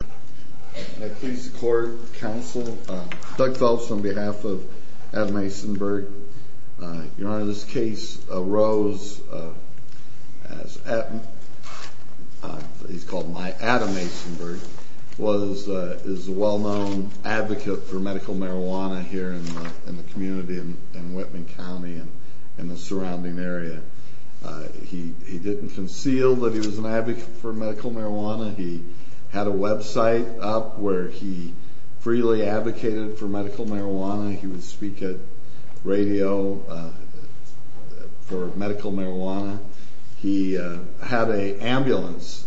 Can I please record counsel? Doug Phelps on behalf of Adam Asenberg. Your Honor, this case arose as, he's called my Adam Asenberg, was, is a well-known advocate for medical marijuana here in the community in Whitman County and in the surrounding area. He didn't conceal that he was an advocate for medical marijuana. He had a website up where he freely advocated for medical marijuana. He would speak at radio for medical marijuana. He had an ambulance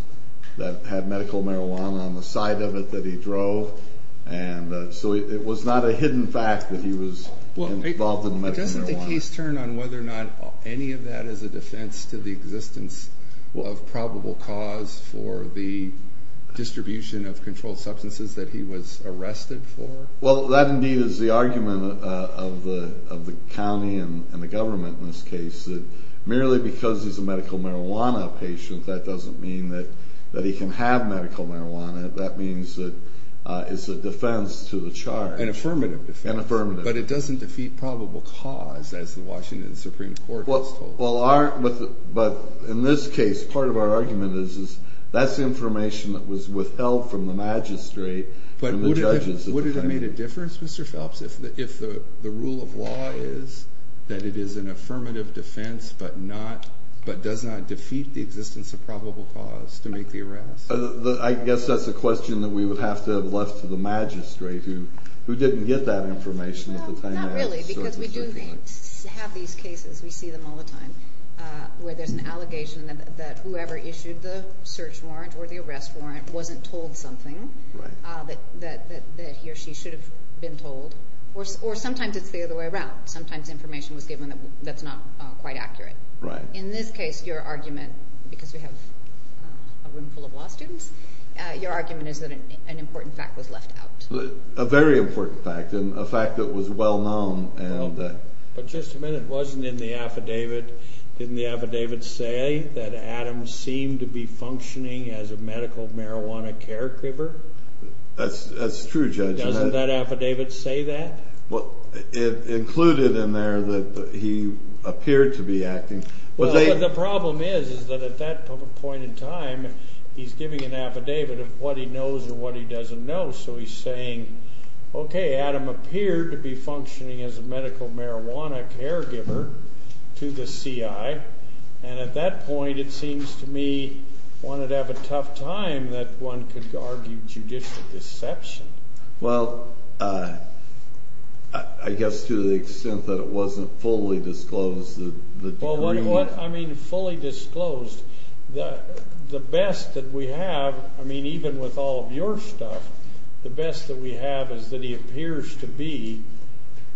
that had medical marijuana on the side of it that he drove. And so it was not a hidden fact that he was involved in medical marijuana. But doesn't the case turn on whether or not any of that is a defense to the existence of probable cause for the distribution of controlled substances that he was arrested for? Well, that indeed is the argument of the county and the government in this case, that merely because he's a medical marijuana patient, that doesn't mean that he can have medical marijuana. That means that it's a defense to the charge. An affirmative defense. An affirmative. But it doesn't defeat probable cause, as the Washington Supreme Court has told us. But in this case, part of our argument is that's information that was withheld from the magistrate and the judges. But would it have made a difference, Mr. Phelps, if the rule of law is that it is an affirmative defense but does not defeat the existence of probable cause to make the arrest? I guess that's a question that we would have to have left to the magistrate, who didn't get that information at the time. Not really, because we do have these cases, we see them all the time, where there's an allegation that whoever issued the search warrant or the arrest warrant wasn't told something that he or she should have been told. Or sometimes it's the other way around. Sometimes information was given that's not quite accurate. In this case, your argument, because we have a room full of law students, your argument is that an important fact was left out. A very important fact, and a fact that was well known. But just a minute, wasn't in the affidavit, didn't the affidavit say that Adam seemed to be functioning as a medical marijuana caregiver? That's true, Judge. Doesn't that affidavit say that? It included in there that he appeared to be acting. Well, the problem is that at that point in time, he's giving an affidavit of what he knows and what he doesn't know. So he's saying, okay, Adam appeared to be functioning as a medical marijuana caregiver to the CI. And at that point, it seems to me one would have a tough time that one could argue judicial deception. Well, I guess to the extent that it wasn't fully disclosed. I mean, fully disclosed. The best that we have, I mean, even with all of your stuff, the best that we have is that he appears to be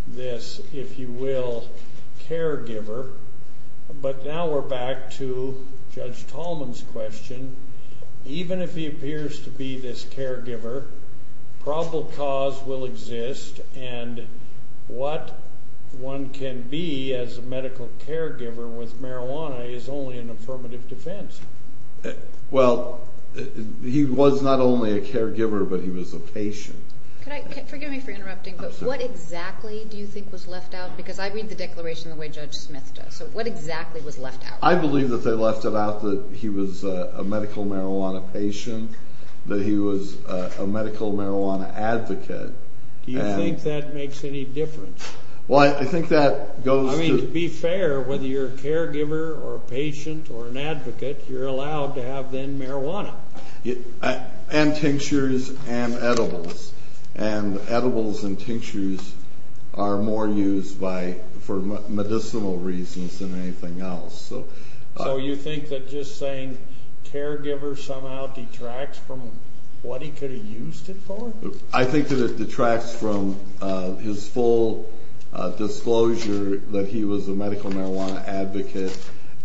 this, if you will, caregiver. But now we're back to Judge Tallman's question. Even if he appears to be this caregiver, probable cause will exist, and what one can be as a medical caregiver with marijuana is only an affirmative defense. Well, he was not only a caregiver, but he was a patient. Could I – forgive me for interrupting, but what exactly do you think was left out? Because I read the declaration the way Judge Smith does. So what exactly was left out? I believe that they left it out that he was a medical marijuana patient, that he was a medical marijuana advocate. Do you think that makes any difference? Well, I think that goes to – I mean, to be fair, whether you're a caregiver or a patient or an advocate, you're allowed to have then marijuana. And tinctures and edibles, and edibles and tinctures are more used for medicinal reasons than anything else. So you think that just saying caregiver somehow detracts from what he could have used it for? I think that it detracts from his full disclosure that he was a medical marijuana advocate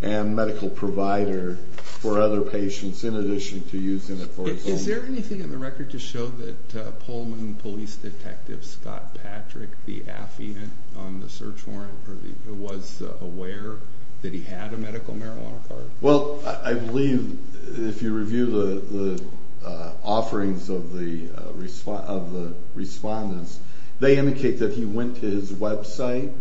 and medical provider for other patients in addition to using it for his own. Is there anything in the record to show that Pullman Police Detective Scott Patrick, the affidavit on the search warrant, was aware that he had a medical marijuana card? Well, I believe if you review the offerings of the respondents, they indicate that he went to his website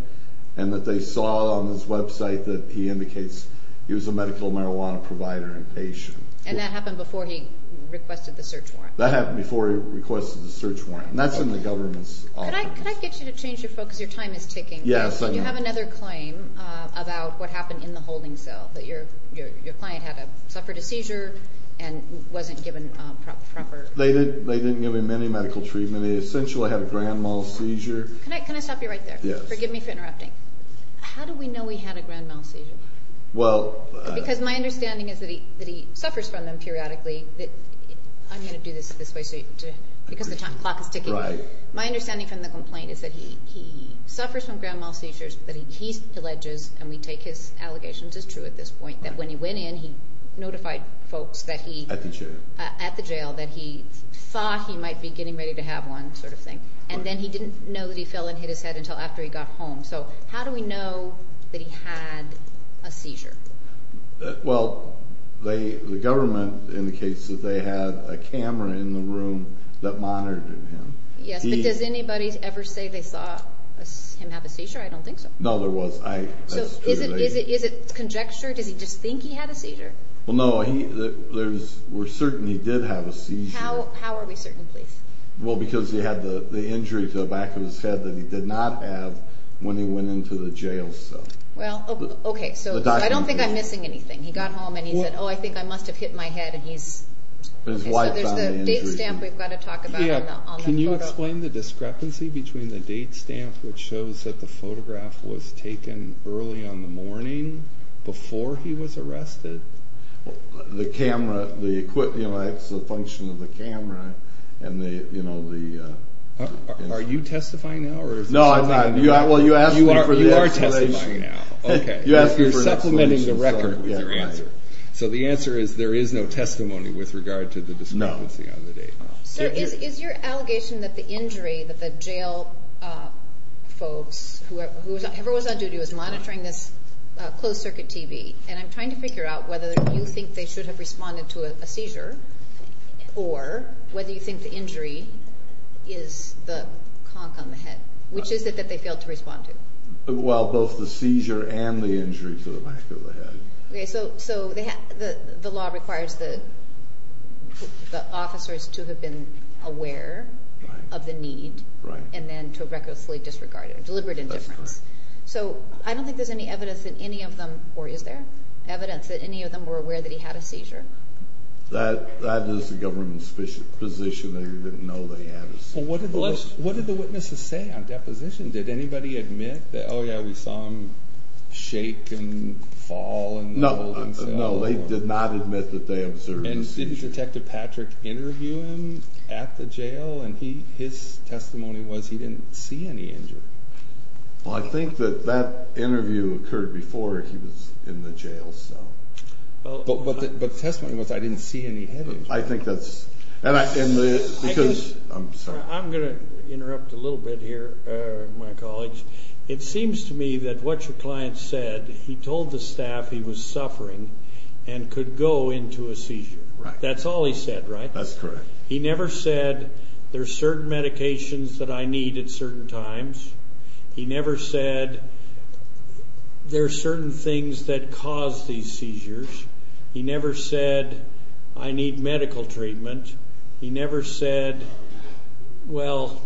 and that they saw on his website that he indicates he was a medical marijuana provider and patient. And that happened before he requested the search warrant? That happened before he requested the search warrant, and that's in the government's office. Could I get you to change your focus? Your time is ticking. Yes, I know. Do you have another claim about what happened in the holding cell, that your client suffered a seizure and wasn't given proper... They didn't give him any medical treatment. He essentially had a grand mal seizure. Can I stop you right there? Yes. Forgive me for interrupting. How do we know he had a grand mal seizure? Well... Because my understanding is that he suffers from them periodically. I'm going to do this this way because the clock is ticking. Right. My understanding from the complaint is that he suffers from grand mal seizures, but he alleges, and we take his allegations as true at this point, that when he went in, he notified folks that he... At the jail. At the jail, that he thought he might be getting ready to have one sort of thing. And then he didn't know that he fell and hit his head until after he got home. So how do we know that he had a seizure? Well, the government indicates that they had a camera in the room that monitored him. Yes, but does anybody ever say they saw him have a seizure? I don't think so. No, there was. So is it conjecture? Does he just think he had a seizure? Well, no. We're certain he did have a seizure. How are we certain, please? Well, because he had the injury to the back of his head that he did not have when he went into the jail cell. Well, okay, so I don't think I'm missing anything. He got home and he said, oh, I think I must have hit my head and he's... So there's the date stamp we've got to talk about on the photo. Can you explain the discrepancy between the date stamp, which shows that the photograph was taken early on the morning before he was arrested? The camera, the equipment, it's a function of the camera, and the... Are you testifying now? No, I'm not. Well, you asked me for the explanation. Okay, you're supplementing the record with your answer. So the answer is there is no testimony with regard to the discrepancy on the date. No. Sir, is your allegation that the injury that the jail folks, whoever was on duty, was monitoring this closed-circuit TV, and I'm trying to figure out whether you think they should have responded to a seizure or whether you think the injury is the conch on the head, which is it that they failed to respond to? Well, both the seizure and the injury to the back of the head. Okay, so the law requires the officers to have been aware of the need... Right. ...and then to have recklessly disregarded it, deliberate indifference. That's correct. So I don't think there's any evidence that any of them, or is there evidence that any of them were aware that he had a seizure? That is the government's position. They didn't know that he had a seizure. Well, what did the witnesses say on deposition? Did anybody admit that, oh, yeah, we saw him shake and fall and hold himself? No, they did not admit that they observed the seizure. And didn't Detective Patrick interview him at the jail? And his testimony was he didn't see any injury. Well, I think that that interview occurred before he was in the jail, so... But the testimony was I didn't see any head injury. I think that's... I'm going to interrupt a little bit here, my colleagues. It seems to me that what your client said, he told the staff he was suffering and could go into a seizure. Right. That's all he said, right? That's correct. He never said there are certain medications that I need at certain times. He never said there are certain things that cause these seizures. He never said I need medical treatment. He never said, well,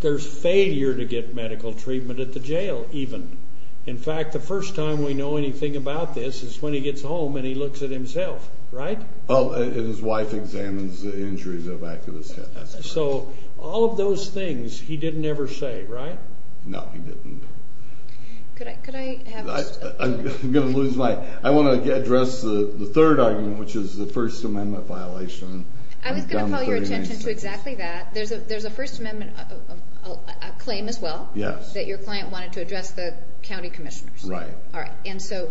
there's failure to get medical treatment at the jail even. In fact, the first time we know anything about this is when he gets home and he looks at himself, right? Oh, and his wife examines the injuries of activists. So all of those things he didn't ever say, right? No, he didn't. Could I have... I'm going to lose my... I want to address the third argument, which is the First Amendment violation. I was going to call your attention to exactly that. There's a First Amendment claim as well. Yes. That your client wanted to address the county commissioners. Right. All right. And so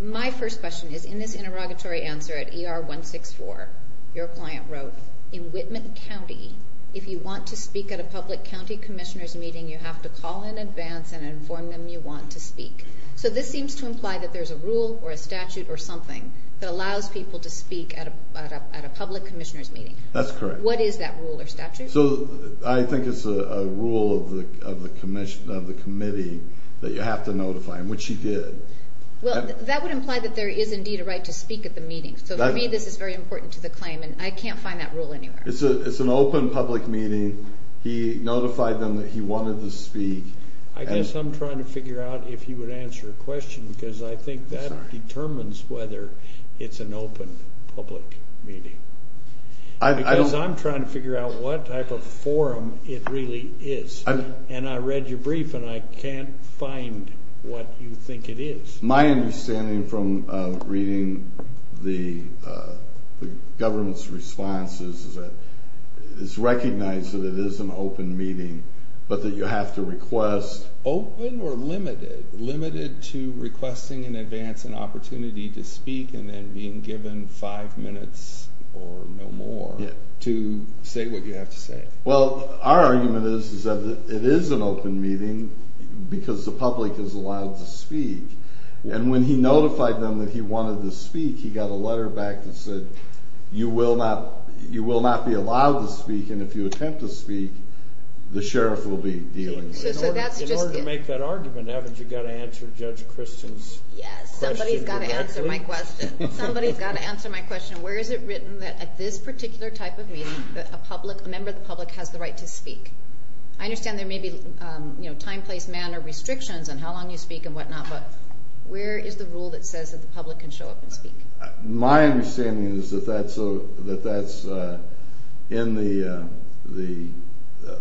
my first question is, in this interrogatory answer at ER 164, your client wrote, in Whitman County, if you want to speak at a public county commissioner's meeting, you have to call in advance and inform them you want to speak. So this seems to imply that there's a rule or a statute or something that allows people to speak at a public commissioner's meeting. That's correct. What is that rule or statute? So I think it's a rule of the committee that you have to notify them, which he did. Well, that would imply that there is indeed a right to speak at the meeting. So for me, this is very important to the claim, and I can't find that rule anywhere. It's an open public meeting. He notified them that he wanted to speak. I guess I'm trying to figure out if you would answer a question, because I think that determines whether it's an open public meeting. Because I'm trying to figure out what type of forum it really is. And I read your brief, and I can't find what you think it is. My understanding from reading the government's response is that it's recognized that it is an open meeting, but that you have to request. Open or limited? Limited to requesting in advance an opportunity to speak and then being given five minutes or no more to say what you have to say. Well, our argument is that it is an open meeting because the public is allowed to speak. And when he notified them that he wanted to speak, he got a letter back that said you will not be allowed to speak, and if you attempt to speak, the sheriff will be dealing with you. In order to make that argument, haven't you got to answer Judge Christian's question directly? Yes, somebody's got to answer my question. Somebody's got to answer my question. Where is it written that at this particular type of meeting, a member of the public has the right to speak? I understand there may be time, place, manner restrictions on how long you speak and whatnot, but where is the rule that says that the public can show up and speak? My understanding is that that's in the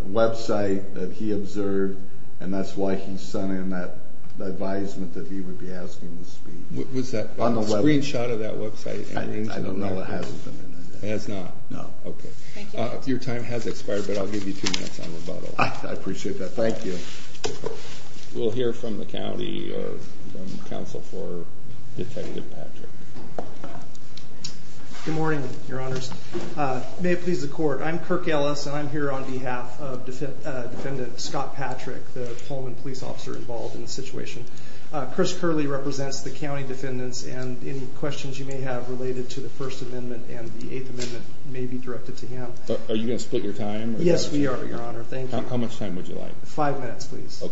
website that he observed, and that's why he sent in that advisement that he would be asking to speak. Was that a screenshot of that website? I don't know. It hasn't been in there. It has not? No. Okay. Your time has expired, but I'll give you two minutes on rebuttal. I appreciate that. Thank you. We'll hear from the county or from counsel for Detective Patrick. Good morning, Your Honors. May it please the court, I'm Kirk Ellis, and I'm here on behalf of Defendant Scott Patrick, the Pullman police officer involved in the situation. Chris Curley represents the county defendants, and any questions you may have related to the First Amendment and the Eighth Amendment may be directed to him. Are you going to split your time? Yes, we are, Your Honor. Thank you. How much time would you like? Five minutes, please.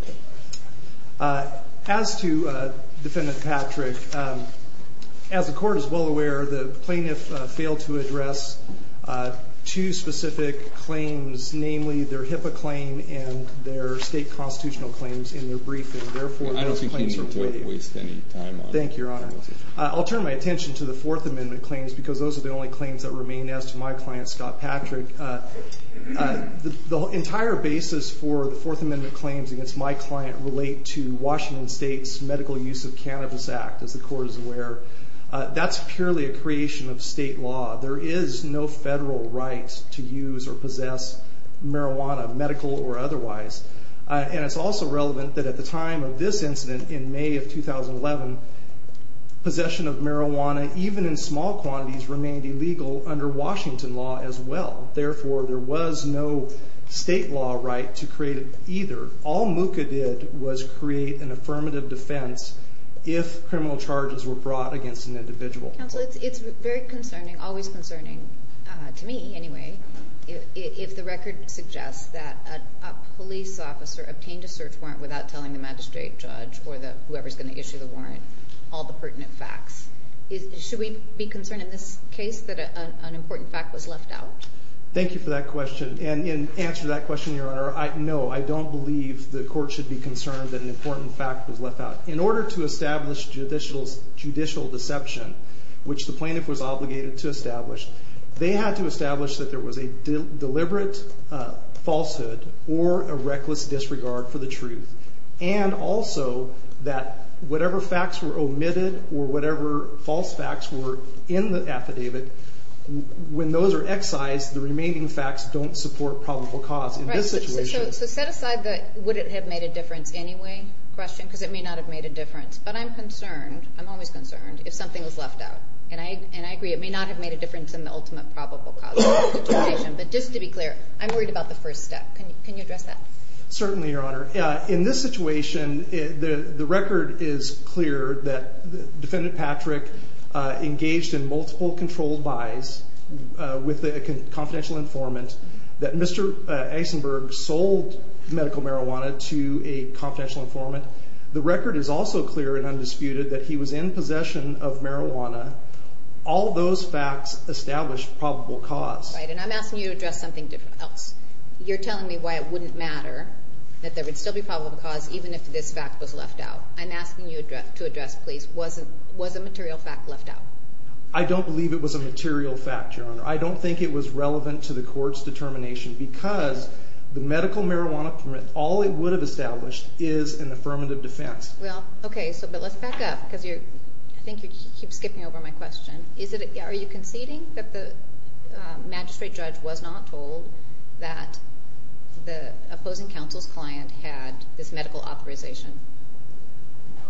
Okay. As to Defendant Patrick, as the court is well aware, the plaintiff failed to address two specific claims, namely their HIPAA claim and their state constitutional claims in their briefing. Therefore, those claims are void. I don't think you need to waste any time on it. Thank you, Your Honor. I'll turn my attention to the Fourth Amendment claims because those are the only claims that remain as to my client, Scott Patrick. The entire basis for the Fourth Amendment claims against my client relate to Washington State's Medical Use of Cannabis Act, as the court is aware. That's purely a creation of state law. There is no federal right to use or possess marijuana, medical or otherwise. And it's also relevant that at the time of this incident in May of 2011, possession of marijuana, even in small quantities, remained illegal under Washington law as well. Therefore, there was no state law right to create it either. All MUCA did was create an affirmative defense if criminal charges were brought against an individual. Counsel, it's very concerning, always concerning, to me anyway, if the record suggests that a police officer obtained a search warrant without telling the magistrate judge or whoever is going to issue the warrant all the pertinent facts. Should we be concerned in this case that an important fact was left out? Thank you for that question. And in answer to that question, Your Honor, no, I don't believe the court should be concerned that an important fact was left out. In order to establish judicial deception, which the plaintiff was obligated to establish, they had to establish that there was a deliberate falsehood or a reckless disregard for the truth. And also that whatever facts were omitted or whatever false facts were in the affidavit, when those are excised, the remaining facts don't support probable cause. So set aside the would it have made a difference anyway question, because it may not have made a difference. But I'm concerned, I'm always concerned, if something was left out. And I agree, it may not have made a difference in the ultimate probable cause. But just to be clear, I'm worried about the first step. Can you address that? Certainly, Your Honor. In this situation, the record is clear that Defendant Patrick engaged in multiple controlled buys with a confidential informant, that Mr. Eisenberg sold medical marijuana to a confidential informant. The record is also clear and undisputed that he was in possession of marijuana. All those facts establish probable cause. Right, and I'm asking you to address something else. You're telling me why it wouldn't matter that there would still be probable cause even if this fact was left out. I'm asking you to address, please, was a material fact left out? I don't believe it was a material fact, Your Honor. I don't think it was relevant to the court's determination because the medical marijuana permit, all it would have established is an affirmative defense. Well, okay, but let's back up because I think you keep skipping over my question. Are you conceding that the magistrate judge was not told that the opposing counsel's client had this medical authorization?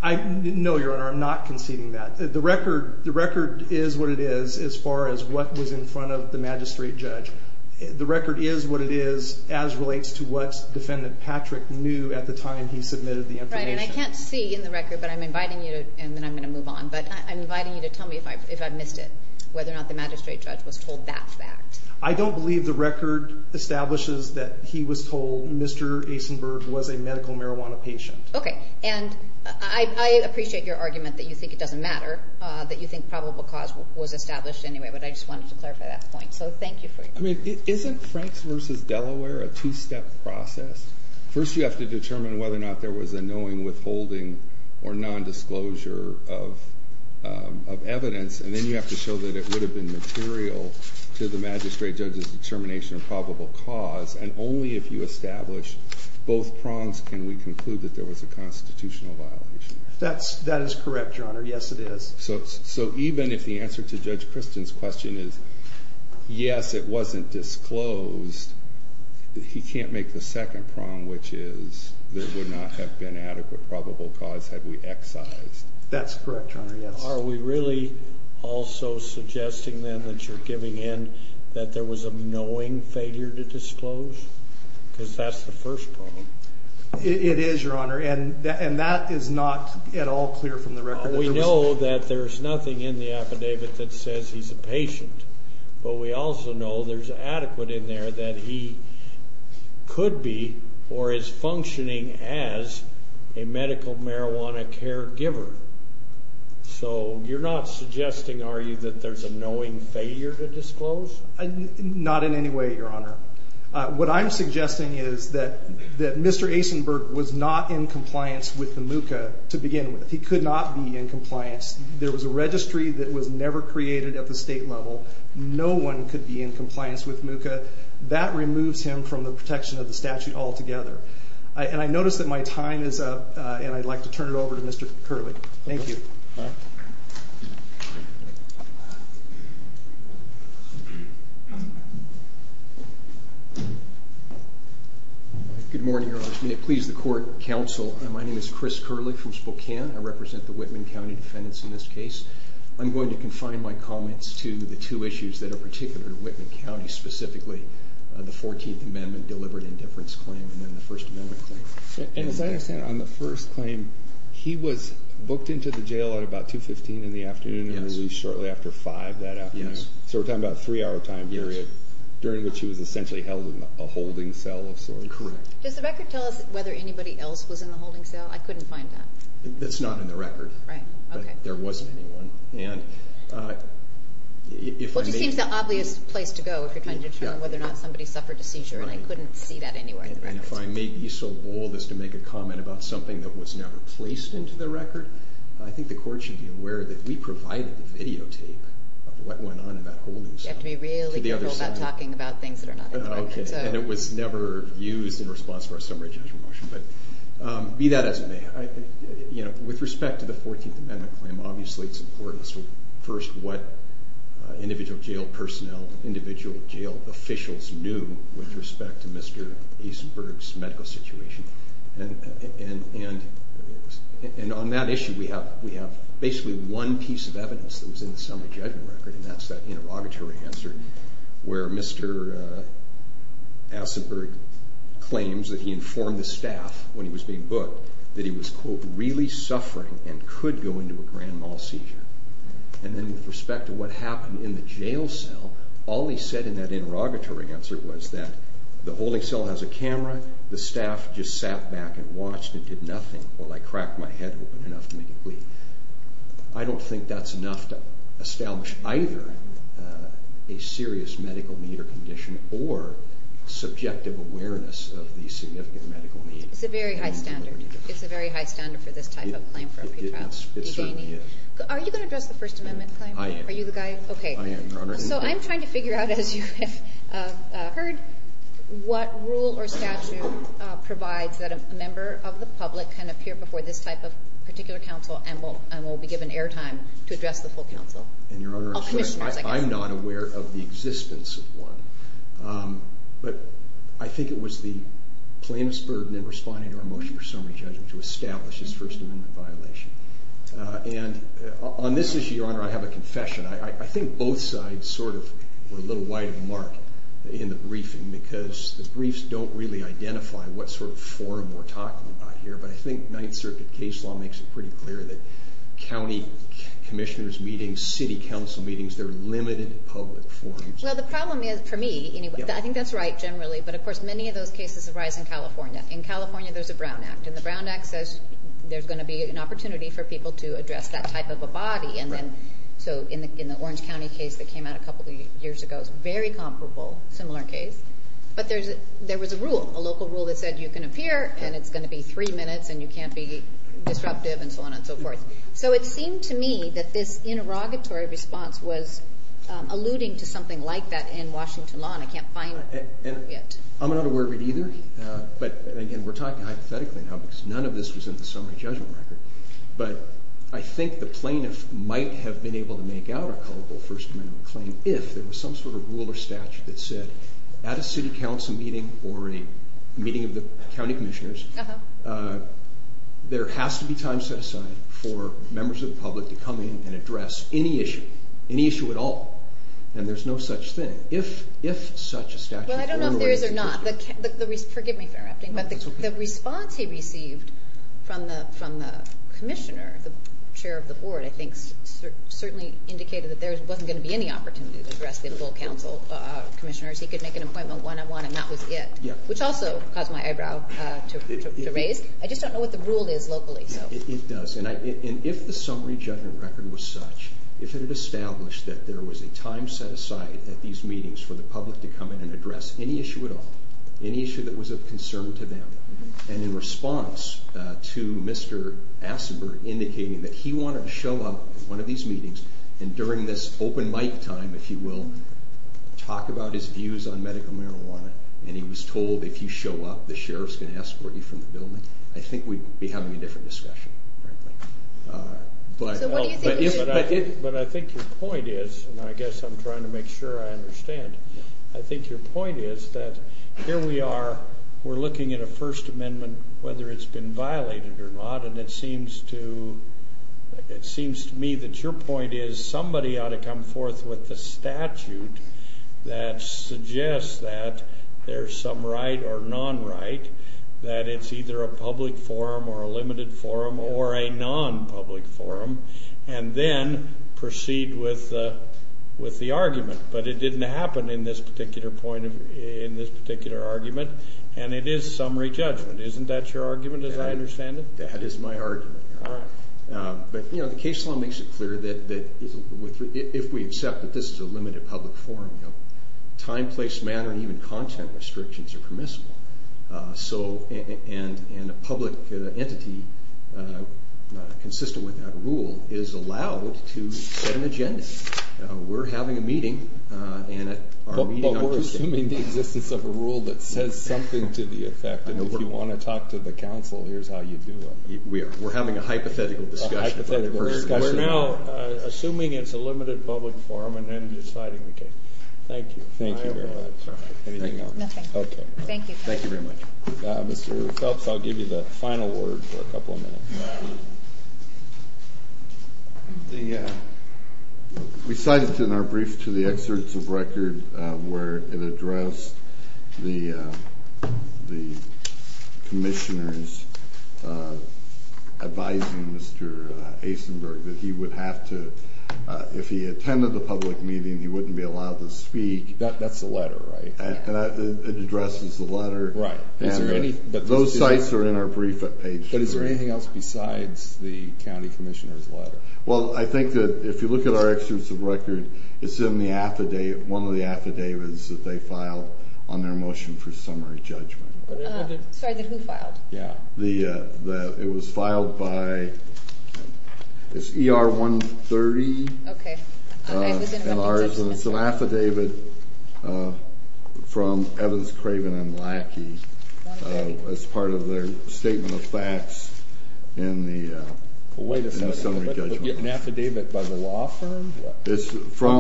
No, Your Honor, I'm not conceding that. The record is what it is as far as what was in front of the magistrate judge. The record is what it is as relates to what Defendant Patrick knew at the time he submitted the information. Right, and I can't see in the record, but I'm inviting you to, and then I'm going to move on, but I'm inviting you to tell me if I missed it, whether or not the magistrate judge was told that fact. I don't believe the record establishes that he was told Mr. Asenberg was a medical marijuana patient. Okay, and I appreciate your argument that you think it doesn't matter, that you think probable cause was established anyway, but I just wanted to clarify that point. So thank you for your time. I mean, isn't Franks v. Delaware a two-step process? First, you have to determine whether or not there was a knowing withholding or nondisclosure of evidence, and then you have to show that it would have been material to the magistrate judge's determination of probable cause, and only if you establish both prongs can we conclude that there was a constitutional violation. That is correct, Your Honor. Yes, it is. So even if the answer to Judge Kristen's question is yes, it wasn't disclosed, he can't make the second prong, which is there would not have been adequate probable cause had we excised. That's correct, Your Honor, yes. Are we really also suggesting then that you're giving in that there was a knowing failure to disclose? Because that's the first problem. It is, Your Honor, and that is not at all clear from the record. We know that there's nothing in the affidavit that says he's a patient, but we also know there's adequate in there that he could be or is functioning as a medical marijuana caregiver. So you're not suggesting, are you, that there's a knowing failure to disclose? Not in any way, Your Honor. What I'm suggesting is that Mr. Asenberg was not in compliance with the MUCA to begin with. He could not be in compliance. There was a registry that was never created at the state level. No one could be in compliance with MUCA. That removes him from the protection of the statute altogether. And I notice that my time is up, and I'd like to turn it over to Mr. Curley. Thank you. Good morning, Your Honor. May it please the court, counsel, my name is Chris Curley from Spokane. I represent the Whitman County defendants in this case. I'm going to confine my comments to the two issues that are particular to Whitman County, specifically the 14th Amendment deliberate indifference claim and then the First Amendment claim. And as I understand, on the first claim, he was booked into the jail at about 2.15 in the afternoon and released shortly after 5 that afternoon. So we're talking about a three-hour time period during which he was essentially held in a holding cell of sorts. Correct. Does the record tell us whether anybody else was in the holding cell? I couldn't find that. That's not in the record. Right. Okay. But there wasn't anyone. Well, it just seems the obvious place to go if you're trying to determine whether or not somebody suffered a seizure, and I couldn't see that anywhere in the records. And if I may be so bold as to make a comment about something that was never placed into the record, I think the court should be aware that we provided the videotape of what went on in that holding cell. You have to be really careful about talking about things that are not in the record. Okay. And it was never used in response to our summary judgment motion. Be that as it may, with respect to the 14th Amendment claim, obviously it's important. First, what individual jail personnel, individual jail officials knew with respect to Mr. Asenberg's medical situation. And on that issue, we have basically one piece of evidence that was in the summary judgment record, and that's that interrogatory answer where Mr. Asenberg claims that he informed the staff when he was being booked that he was, quote, really suffering and could go into a grand mal seizure. And then with respect to what happened in the jail cell, all he said in that interrogatory answer was that the holding cell has a camera, the staff just sat back and watched and did nothing while I cracked my head open enough to make it bleed. I don't think that's enough to establish either a serious medical need or condition or subjective awareness of these significant medical needs. It's a very high standard. It's a very high standard for this type of claim for a pretrial detainee. It certainly is. Are you going to address the First Amendment claim? I am. Are you the guy? I am, Your Honor. So I'm trying to figure out, as you have heard, what rule or statute provides that a member of the public can appear before this type of particular counsel and will be given air time to address the full counsel? I'm not aware of the existence of one. But I think it was the plaintiff's burden in responding to our motion for summary judgment to establish his First Amendment violation. And on this issue, Your Honor, I have a confession. I think both sides sort of were a little wide of the mark in the briefing because the briefs don't really identify what sort of forum we're talking about here. But I think Ninth Circuit case law makes it pretty clear that county commissioners' meetings, city council meetings, they're limited public forums. Well, the problem is, for me, I think that's right generally. But, of course, many of those cases arise in California. In California, there's a Brown Act. And the Brown Act says there's going to be an opportunity for people to address that type of a body. So in the Orange County case that came out a couple of years ago, it's a very comparable, similar case. But there was a rule, a local rule that said you can appear, and it's going to be three minutes, and you can't be disruptive, and so on and so forth. So it seemed to me that this interrogatory response was alluding to something like that in Washington law, and I can't find it. I'm not aware of it either. But, again, we're talking hypothetically now because none of this was in the summary judgment record. But I think the plaintiff might have been able to make out a culpable First Amendment claim if there was some sort of rule or statute that said at a city council meeting or a meeting of the county commissioners, there has to be time set aside for members of the public to come in and address any issue, any issue at all. And there's no such thing. Well, I don't know if there is or not. Forgive me for interrupting, but the response he received from the commissioner, the chair of the board, I think certainly indicated that there wasn't going to be any opportunity to address the full council commissioners. He could make an appointment one-on-one, and that was it, which also caused my eyebrow to raise. I just don't know what the rule is locally. It does. And if the summary judgment record was such, if it had established that there was a time set aside at these meetings for the public to come in and address any issue at all, any issue that was of concern to them, and in response to Mr. Asenberg indicating that he wanted to show up at one of these meetings and during this open mic time, if you will, talk about his views on medical marijuana, and he was told, if you show up, the sheriff's going to escort you from the building, I think we'd be having a different discussion, frankly. But I think your point is, and I guess I'm trying to make sure I understand, I think your point is that here we are, we're looking at a First Amendment, whether it's been violated or not, and it seems to me that your point is somebody ought to come forth with the statute that suggests that there's some right or non-right, that it's either a public forum or a limited forum or a non-public forum, and then proceed with the argument. But it didn't happen in this particular argument, and it is summary judgment. Isn't that your argument, as I understand it? That is my argument. All right. But the case law makes it clear that if we accept that this is a limited public forum, time, place, manner, and even content restrictions are permissible, and a public entity consistent with that rule is allowed to set an agenda. We're having a meeting, and at our meeting on Tuesday— We're having a hypothetical discussion about the First Amendment. We're now assuming it's a limited public forum and then deciding the case. Thank you. Thank you very much. Anything else? Nothing. Okay. Thank you. Thank you very much. Mr. Phelps, I'll give you the final word for a couple of minutes. We cited in our brief to the excerpts of record where it addressed the commissioners advising Mr. Asenberg that he would have to— if he attended the public meeting, he wouldn't be allowed to speak. That's the letter, right? It addresses the letter. Right. Those sites are in our brief at Page 2. But is there anything else besides the county commissioner's letter? Well, I think that if you look at our excerpts of record, it's in the affidavit, one of the affidavits that they filed on their motion for summary judgment. Sorry, then who filed? It was filed by—it's ER-130. Okay. And it's an affidavit from Evans, Craven, and Lackey as part of their statement of facts in the summary judgment. Wait a second. An affidavit by the law firm? I'm looking for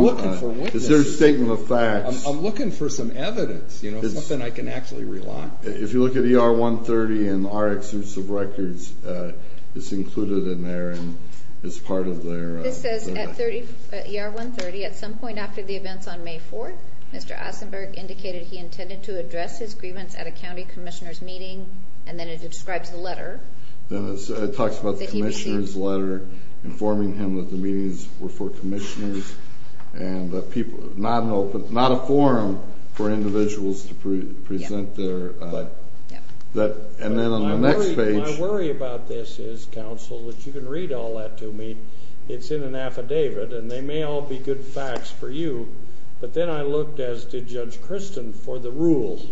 witnesses. It's their statement of facts. I'm looking for some evidence, you know, something I can actually rely on. If you look at ER-130 and our excerpts of records, it's included in there and it's part of their— This says at ER-130, at some point after the events on May 4th, Mr. Asenberg indicated he intended to address his grievance at a county commissioner's meeting, and then it describes the letter that he received. Then it talks about the commissioner's letter informing him that the meetings were for commissioners Not an open—not a forum for individuals to present their— And then on the next page— My worry about this is, counsel, that you can read all that to me. It's in an affidavit, and they may all be good facts for you. But then I looked, as did Judge Christin, for the rules.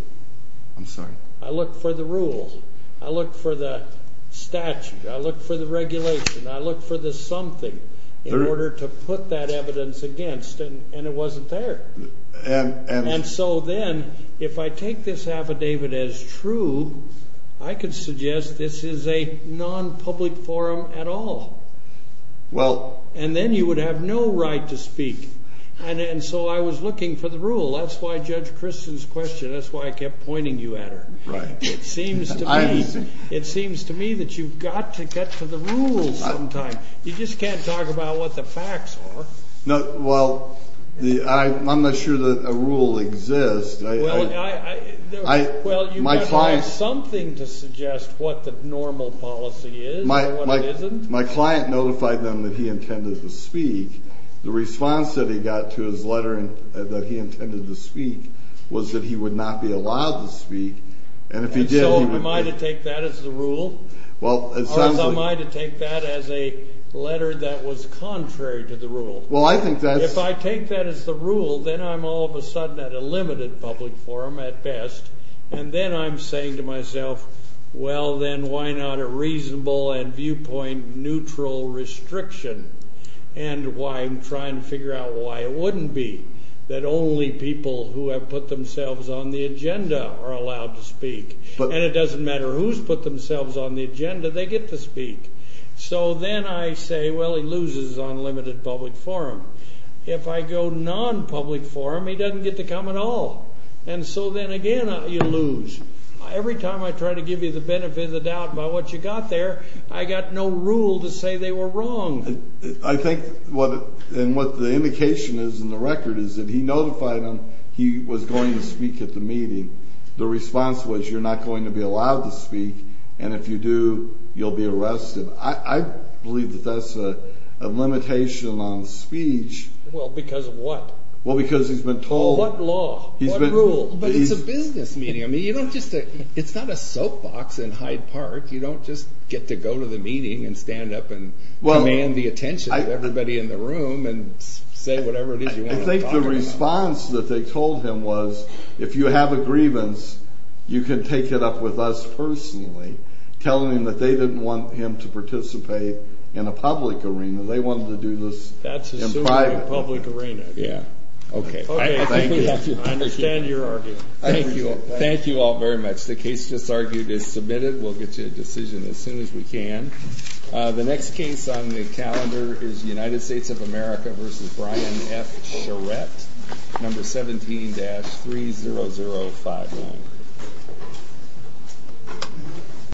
I'm sorry? I looked for the rules. I looked for the statute. I looked for the regulation. I looked for the something in order to put that evidence against, and it wasn't there. And so then, if I take this affidavit as true, I could suggest this is a non-public forum at all. Well— And then you would have no right to speak. And so I was looking for the rule. That's why Judge Christin's question—that's why I kept pointing you at her. Right. It seems to me that you've got to get to the rules sometime. You just can't talk about what the facts are. Well, I'm not sure that a rule exists. Well, you might have something to suggest what the normal policy is and what it isn't. My client notified them that he intended to speak. The response that he got to his letter that he intended to speak was that he would not be allowed to speak. And if he did, he would be— And so am I to take that as the rule? Well, it sounds like— Or am I to take that as a letter that was contrary to the rule? Well, I think that's— If I take that as the rule, then I'm all of a sudden at a limited public forum at best, and then I'm saying to myself, well, then why not a reasonable and viewpoint-neutral restriction? And why I'm trying to figure out why it wouldn't be that only people who have put themselves on the agenda are allowed to speak, and it doesn't matter who's put themselves on the agenda, they get to speak. So then I say, well, he loses on limited public forum. If I go non-public forum, he doesn't get to come at all. And so then again, you lose. Every time I try to give you the benefit of the doubt about what you got there, I got no rule to say they were wrong. I think what—and what the indication is in the record is that he notified them he was going to speak at the meeting. The response was you're not going to be allowed to speak, and if you do, you'll be arrested. I believe that that's a limitation on speech. Well, because of what? Well, because he's been told— What law? What rule? But it's a business meeting. I mean, you don't just—it's not a soapbox in Hyde Park. You don't just get to go to the meeting and stand up and demand the attention of everybody in the room and say whatever it is you want to talk about. I think the response that they told him was if you have a grievance, you can take it up with us personally, telling them that they didn't want him to participate in a public arena. They wanted to do this in private. That's assuming a public arena. Yeah. Okay. I think we have to— I understand your argument. Thank you. Thank you all very much. The case just argued is submitted. We'll get you a decision as soon as we can. The next case on the calendar is United States of America v. Brian F. Charette, No. 17-30051.